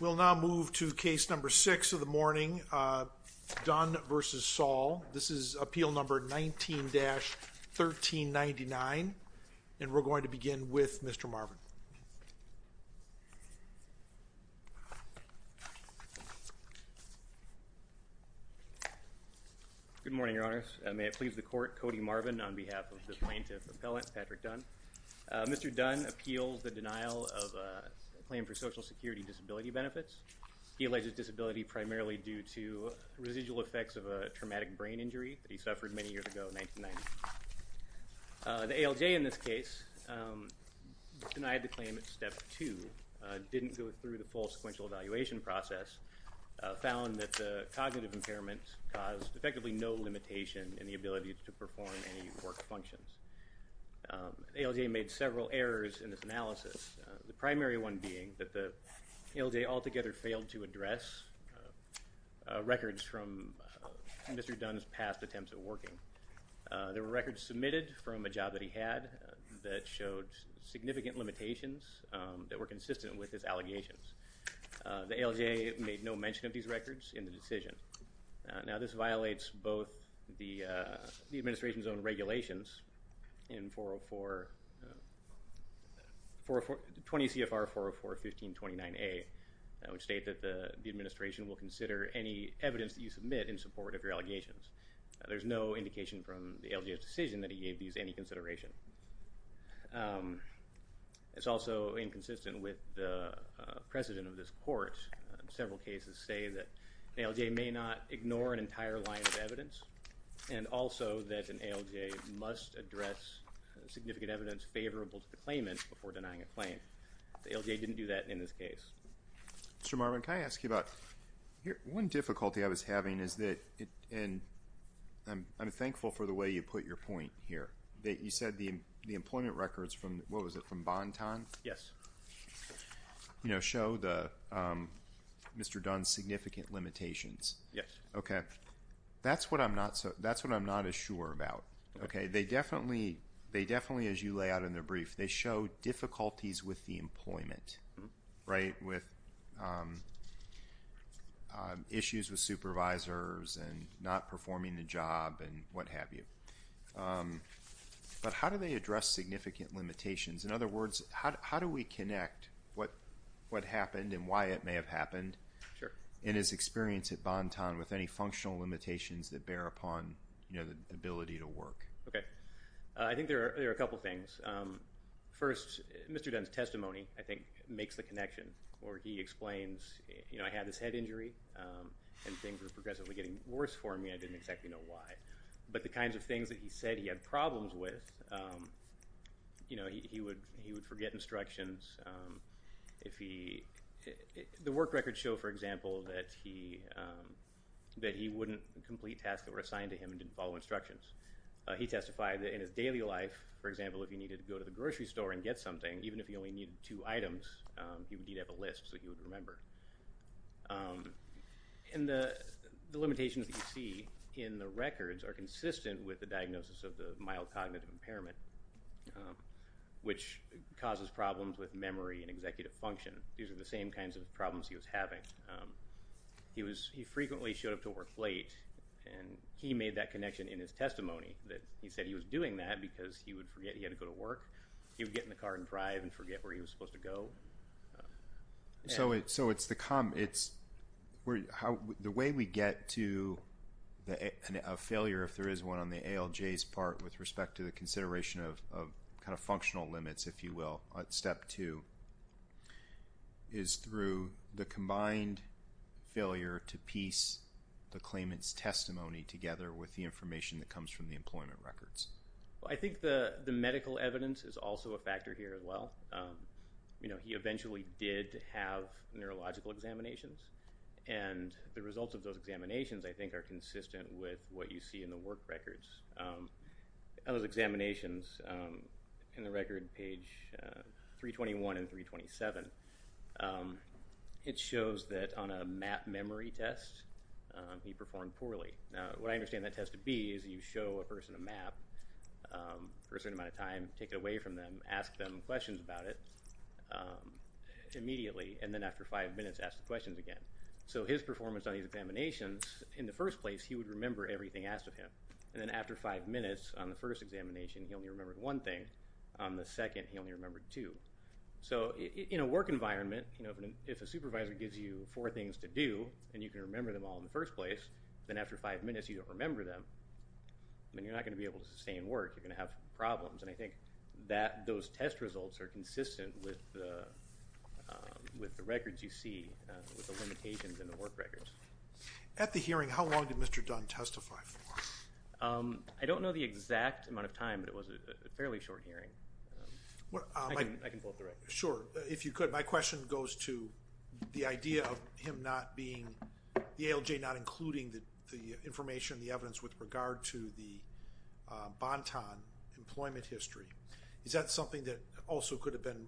We will now move to case number 6 of the morning, Dunn v. Saul. This is appeal number 19-1399 and we are going to begin with Mr. Marvin. Good morning, your honors. May it please the Mr. Dunn appeals the denial of a claim for social security disability benefits. He alleges disability primarily due to residual effects of a traumatic brain injury that he suffered many years ago in 1990. The ALJ in this case denied the claim at step two, didn't go through the full sequential evaluation process, found that the cognitive impairment caused effectively no limitation in the ability to perform any work functions. ALJ made several errors in this analysis, the primary one being that the ALJ altogether failed to address records from Mr. Dunn's past attempts at working. There were records submitted from a job that he had that showed significant limitations that were consistent with his allegations. The ALJ made no mention of these records in the administration's own regulations in 20 CFR 404-1529A, which state that the administration will consider any evidence that you submit in support of your allegations. There's no indication from the ALJ's decision that he gave these any consideration. It's also inconsistent with the precedent of this court. Several cases say that the ALJ may not ignore an entire line of evidence, and also that an ALJ must address significant evidence favorable to the claimant before denying a claim. The ALJ didn't do that in this case. Mr. Marwin, can I ask you about, one difficulty I was having is that, and I'm thankful for the way you put your point here, that you said the employment records from, what was it, from Bonton? Yes. You know, show the Mr. Dunn's significant limitations. Yes. Okay. That's what I'm not as sure about. Okay. They definitely, as you lay out in their brief, they show difficulties with the employment, right, with issues with supervisors and not performing the job and what have you. But how do they address significant limitations? In other words, how do we connect what happened and why it may have happened in his experience at Bonton with any functional limitations that bear upon, you know, the ability to work? Okay. I think there are a couple things. First, Mr. Dunn's testimony, I think, makes the connection where he explains, you know, I had this head injury and things were progressively getting worse for me. I didn't exactly know why. But the kinds of things that he said he had problems with, you know, he would forget instructions. If he, the work records show, for example, that he wouldn't complete tasks that were assigned to him and didn't follow instructions. He testified that in his daily life, for example, if he needed to go to the grocery store and get something, even if he only needed two items, he would need to have a list so he would remember. And the limitations that you see in the records are consistent with the diagnosis of the mild cognitive impairment, which causes problems with memory and executive function. These are the same kinds of problems he was having. He frequently showed up to work late and he made that connection in his testimony that he said he was doing that because he would forget he had to go to work. He would get in the car and drive and forget where he was supposed to go. So it's the way we get to a failure, if there is one, on the ALJ's part with respect to the is through the combined failure to piece the claimant's testimony together with the information that comes from the employment records. Well, I think the medical evidence is also a factor here as well. You know, he eventually did have neurological examinations and the results of those examinations, I think, are consistent with what you see in the work records. Those examinations, in the record, page 321 and 327, it shows that on a map memory test, he performed poorly. Now, what I understand that test to be is you show a person a map for a certain amount of time, take it away from them, ask them questions about it immediately, and then after five minutes, ask the questions again. So his performance on these examinations, in the first place, he would remember everything asked of him. And then after five minutes on the first examination, he only remembered one thing. On the second, he only remembered two. So in a work environment, you know, if a supervisor gives you four things to do, and you can remember them all in the first place, then after five minutes, you don't remember them, then you're not going to be able to sustain work. You're going to have problems. And I think that those test results are consistent with the records you see, with the limitations in the work records. At the hearing, how long did Mr. Dunn testify for? I don't know the exact amount of time, but it was a fairly short hearing. I can pull up the record. Sure. If you could, my question goes to the idea of him not being, the ALJ not including the information, the evidence with regard to the Banton employment history. Is that something that also could have been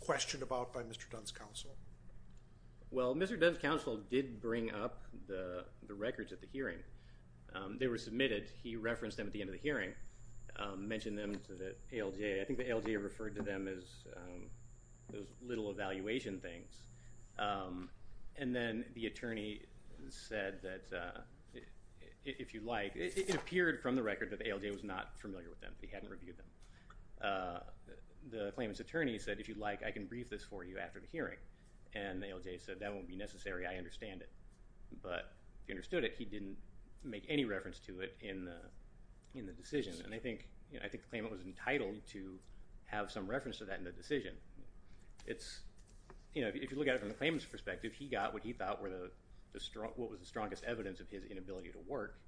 questioned about by Mr. Dunn's counsel? Well, Mr. Dunn's counsel did bring up the records at the hearing. They were submitted. He referenced them at the end of the hearing, mentioned them to the ALJ. I think the ALJ referred to them as those little evaluation things. And then the attorney said that, if you'd like, it appeared from the record that the ALJ was not familiar with them. He hadn't reviewed them. The claimant's attorney said, if you'd like, I can brief this for you after the hearing. And the ALJ said, that won't be necessary. I understand it. But he understood it. He didn't make any reference to it in the decision. And I think the claimant was entitled to have some reference to that in the decision. If you look at it from the claimant's perspective, he got what he thought was the strongest evidence of his inability to work.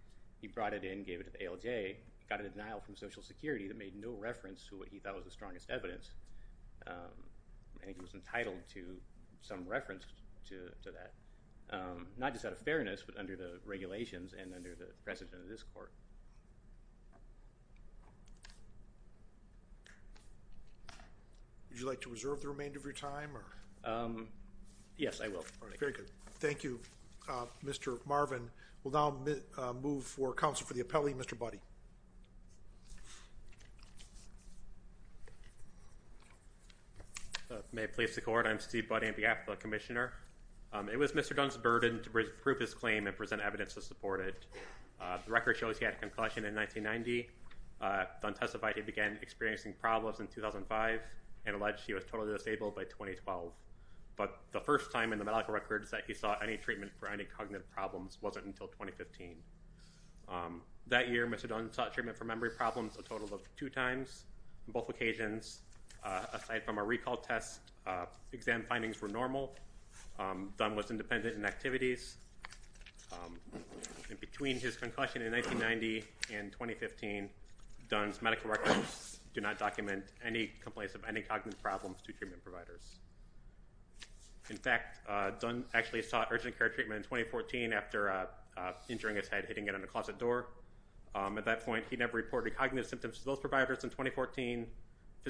He brought it in, gave it to the ALJ, got a denial from Social Security that made no reference to what he thought was the strongest evidence. And he was entitled to some reference to that. Not just out of fairness, but under the regulations and under the precedent of this court. Would you like to reserve the remainder of your time? Yes, I will. Very good. Thank you, Mr. Marvin. We'll now move for counsel for the appellee, Mr. Buddy. May it please the court. I'm Steve Buddy on behalf of the commissioner. It was Mr. Dunn's burden to prove his claim and present evidence to support it. The record shows he had a concussion in 1990. Dunn testified he began experiencing problems in 2005 and alleged he was totally disabled by 2012. But the first time in the medical records that he sought any treatment for any cognitive problems wasn't until 2015. That year, Mr. Dunn sought treatment for memory problems a total of two times on both occasions. Aside from a recall test, exam findings were normal. Dunn was independent in activities. And between his concussion in 1990 and 2015, Dunn's medical records do not document any complaints of any cognitive problems to treatment providers. In fact, Dunn actually sought urgent care treatment in 2014 after injuring his head, hitting it on a closet door. At that point, he never reported cognitive symptoms to those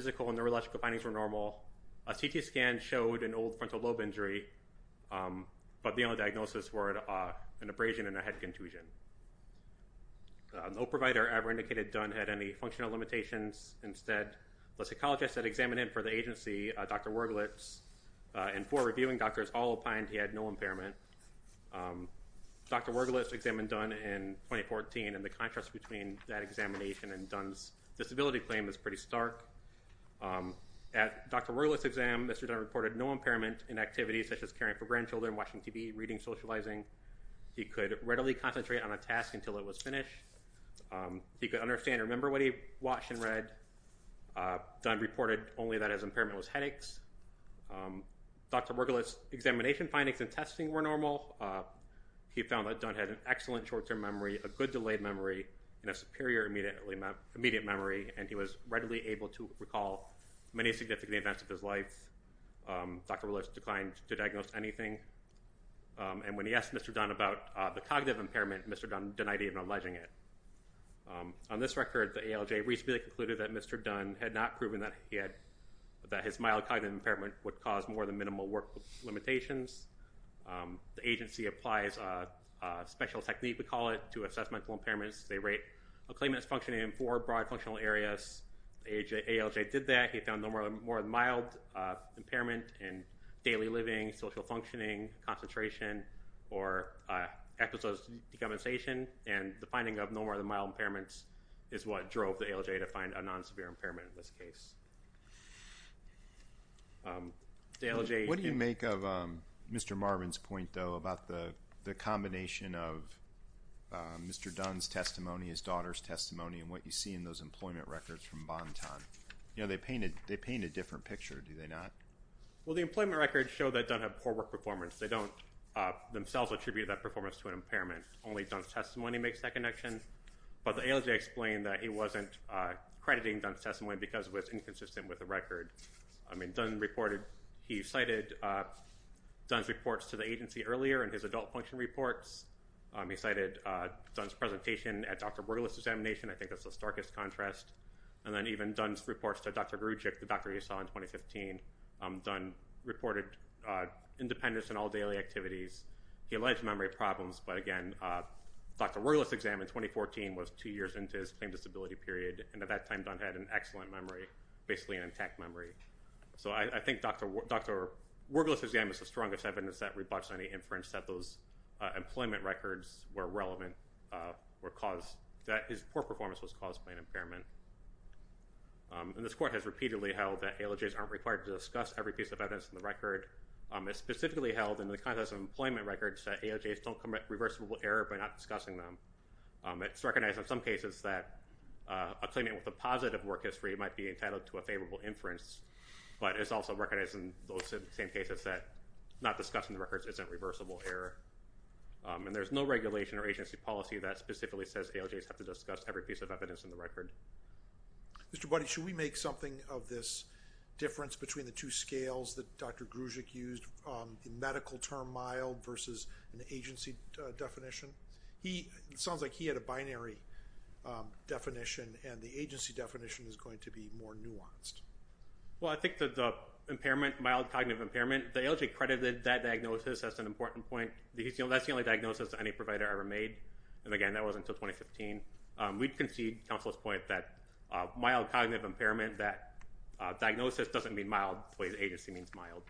medical and neurological findings were normal. A CT scan showed an old frontal lobe injury, but the only diagnosis were an abrasion and a head contusion. No provider ever indicated Dunn had any functional limitations. Instead, the psychologists that examined him for the agency, Dr. Wergelitz, and four reviewing doctors all opined he had no impairment. Dr. Wergelitz examined Dunn in 2014, and the contrast between that examination and Dunn's disability claim is pretty stark. At Dr. Wergelitz's exam, Mr. Dunn reported no impairment in activities such as caring for grandchildren, watching TV, reading, socializing. He could readily concentrate on a task until it was finished. He could understand and remember what he watched and read. Dunn reported only that his impairment was headaches. Dr. Wergelitz's examination findings and testing were normal. He found that Dunn had an excellent short-term memory, a good delayed memory, and a superior immediate memory, and he was readily able to recall many significant events of his life. Dr. Wergelitz declined to diagnose anything. And when he asked Mr. Dunn about the cognitive impairment, Mr. Dunn denied even alleging it. On this record, the ALJ reasonably concluded that Mr. Dunn had not proven that his mild cognitive impairment would cause more than minimal work limitations. The agency applies a special technique, we call it, to assess mental impairments. They rate a claimant's functioning in four broad functional areas. The ALJ did that. He found no more than mild impairment in daily living, social functioning, concentration, or episodes of decompensation. And the finding of no more than mild impairments is what drove the ALJ to find a non-severe impairment in this case. What do you make of Mr. Marvin's point, though, about the combination of Mr. Dunn's testimony, his daughter's testimony, and what you see in those employment records from Bonton? You know, they paint a different picture, do they not? Well, the employment records show that Dunn had poor work performance. They don't themselves attribute that performance to an impairment. Only Dunn's testimony makes that connection. But the ALJ explained that it wasn't crediting Dunn's testimony because it was inconsistent with the record. I mean, Dunn reported, he cited Dunn's reports to the agency earlier in his adult function reports. He cited Dunn's presentation at Dr. Borgelow's examination. I think that's the starkest contrast. And then even Dunn's reports to Dr. Grudczyk, the doctor you saw in 2015. Dunn reported independence in all daily activities. He alleged memory problems. But, again, Dr. Borgelow's exam in 2014 was two years into his plain disability period, and at that time Dunn had an excellent memory, basically an intact memory. So I think Dr. Borgelow's exam is the strongest evidence that rebutts any inference that those employment records were relevant, that his poor performance was caused by an impairment. And this Court has repeatedly held that ALJs aren't required to discuss every piece of evidence in the record. It specifically held in the context of employment records that ALJs don't commit reversible error by not discussing them. It's recognized in some cases that a claimant with a positive work history might be entitled to a favorable inference, but it's also recognized in those same cases that not discussing the records isn't reversible error. And there's no regulation or agency policy that specifically says ALJs have to discuss every piece of evidence in the record. Mr. Budde, should we make something of this difference between the two scales that Dr. Grudczyk used, the medical term mild versus an agency definition? It sounds like he had a binary definition, and the agency definition is going to be more nuanced. Well, I think that the impairment, mild cognitive impairment, again, the ALJ credited that diagnosis as an important point. That's the only diagnosis any provider ever made, and again, that wasn't until 2015. We concede counsel's point that mild cognitive impairment, that diagnosis doesn't mean mild the way the agency means mild.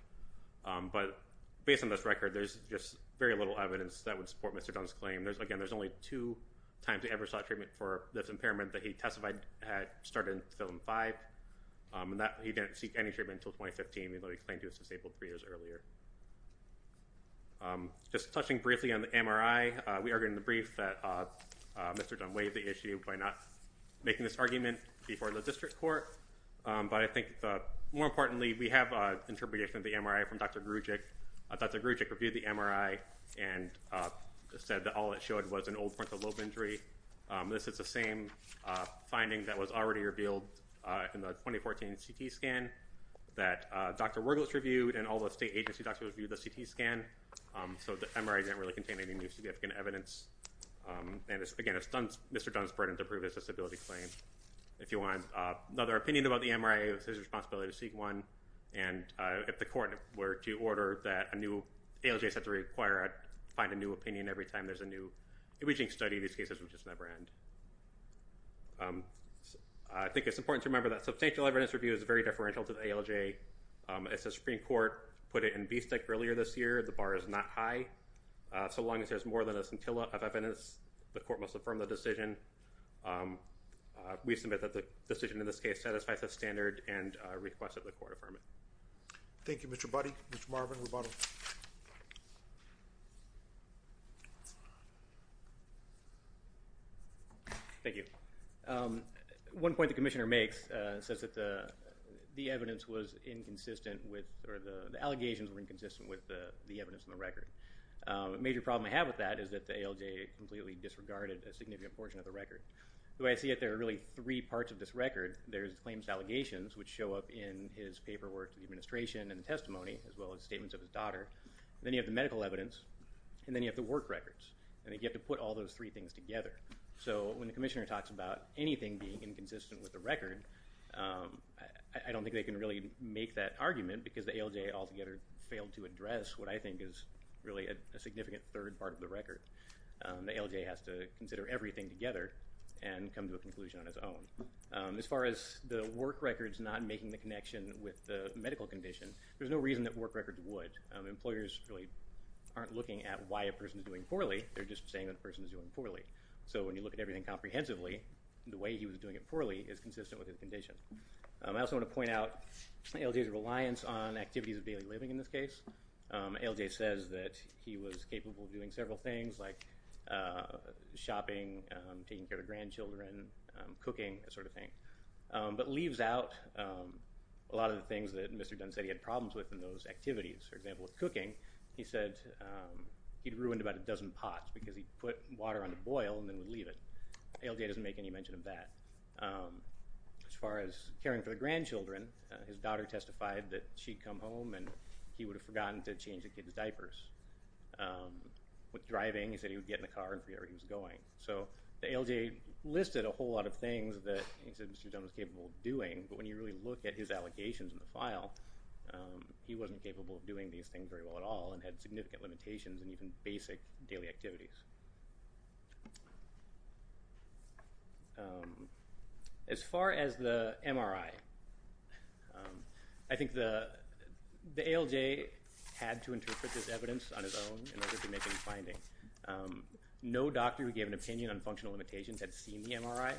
But based on this record, there's just very little evidence that would support Mr. Dunn's claim. Again, there's only two times he ever sought treatment for this impairment that he testified had started in 2005, and he didn't seek any treatment until 2015, even though he claimed he was disabled three years earlier. Just touching briefly on the MRI, we argued in the brief that Mr. Dunn weighed the issue by not making this argument before the district court. But I think more importantly, we have an interpretation of the MRI from Dr. Grudczyk. Dr. Grudczyk reviewed the MRI and said that all it showed was an old frontal lobe injury. This is the same finding that was already revealed in the 2014 CT scan that Dr. Wuerglitz reviewed, and all the state agency doctors reviewed the CT scan, so the MRI didn't really contain any new significant evidence. And again, it's Mr. Dunn's burden to prove his disability claim. If you want another opinion about the MRI, it's his responsibility to seek one, and if the court were to order that a new ALJ set to require it, find a new opinion every time there's a new imaging study, any of these cases would just never end. I think it's important to remember that substantial evidence review is very deferential to the ALJ. As the Supreme Court put it in BSTEC earlier this year, the bar is not high. So long as there's more than a scintilla of evidence, the court must affirm the decision. We submit that the decision in this case satisfies the standard and request that the court affirm it. Thank you, Mr. Budde. Mr. Marvin Rubato. Thank you. One point the commissioner makes says that the evidence was inconsistent with or the allegations were inconsistent with the evidence in the record. A major problem I have with that is that the ALJ completely disregarded a significant portion of the record. The way I see it, there are really three parts of this record. There's claims allegations, which show up in his paperwork to the administration and testimony, as well as statements of his daughter. Then you have the medical evidence, and then you have the work records, and you have to put all those three things together. So when the commissioner talks about anything being inconsistent with the record, I don't think they can really make that argument because the ALJ altogether failed to address what I think is really a significant third part of the record. The ALJ has to consider everything together and come to a conclusion on its own. As far as the work records not making the connection with the medical condition, there's no reason that work records would. Employers really aren't looking at why a person is doing poorly. They're just saying that a person is doing poorly. So when you look at everything comprehensively, the way he was doing it poorly is consistent with his condition. I also want to point out ALJ's reliance on activities of daily living in this case. ALJ says that he was capable of doing several things like shopping, taking care of the grandchildren, cooking, that sort of thing, but leaves out a lot of the things that Mr. Dunn said he had problems with in those activities. For example, with cooking, he said he'd ruined about a dozen pots because he'd put water on the boil and then would leave it. ALJ doesn't make any mention of that. As far as caring for the grandchildren, his daughter testified that she'd come home and he would have forgotten to change the kid's diapers. With driving, he said he would get in the car and forget where he was going. So ALJ listed a whole lot of things that he said Mr. Dunn was capable of doing, but when you really look at his allocations in the file, he wasn't capable of doing these things very well at all and had significant limitations in even basic daily activities. As far as the MRI, I think the ALJ had to interpret this evidence on his own in order to make any findings. No doctor who gave an opinion on functional limitations had seen the MRI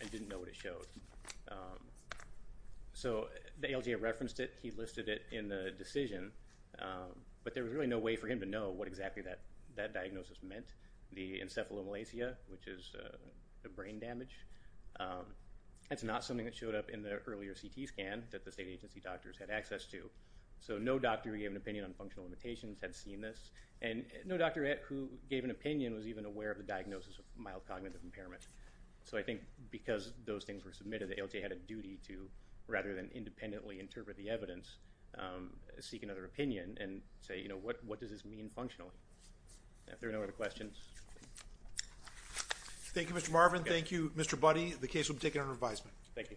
and didn't know what it showed. So the ALJ referenced it, he listed it in the decision, but there was really no way for him to know what exactly that diagnosis was. The encephalomalacia, which is brain damage, that's not something that showed up in the earlier CT scan that the state agency doctors had access to. So no doctor who gave an opinion on functional limitations had seen this, and no doctor who gave an opinion was even aware of the diagnosis of mild cognitive impairment. So I think because those things were submitted, the ALJ had a duty to, rather than independently interpret the evidence, seek another opinion and say, what does this mean functionally? If there are no other questions. Thank you, Mr. Marvin. Thank you, Mr. Budde. The case will be taken under advisement. Thank you.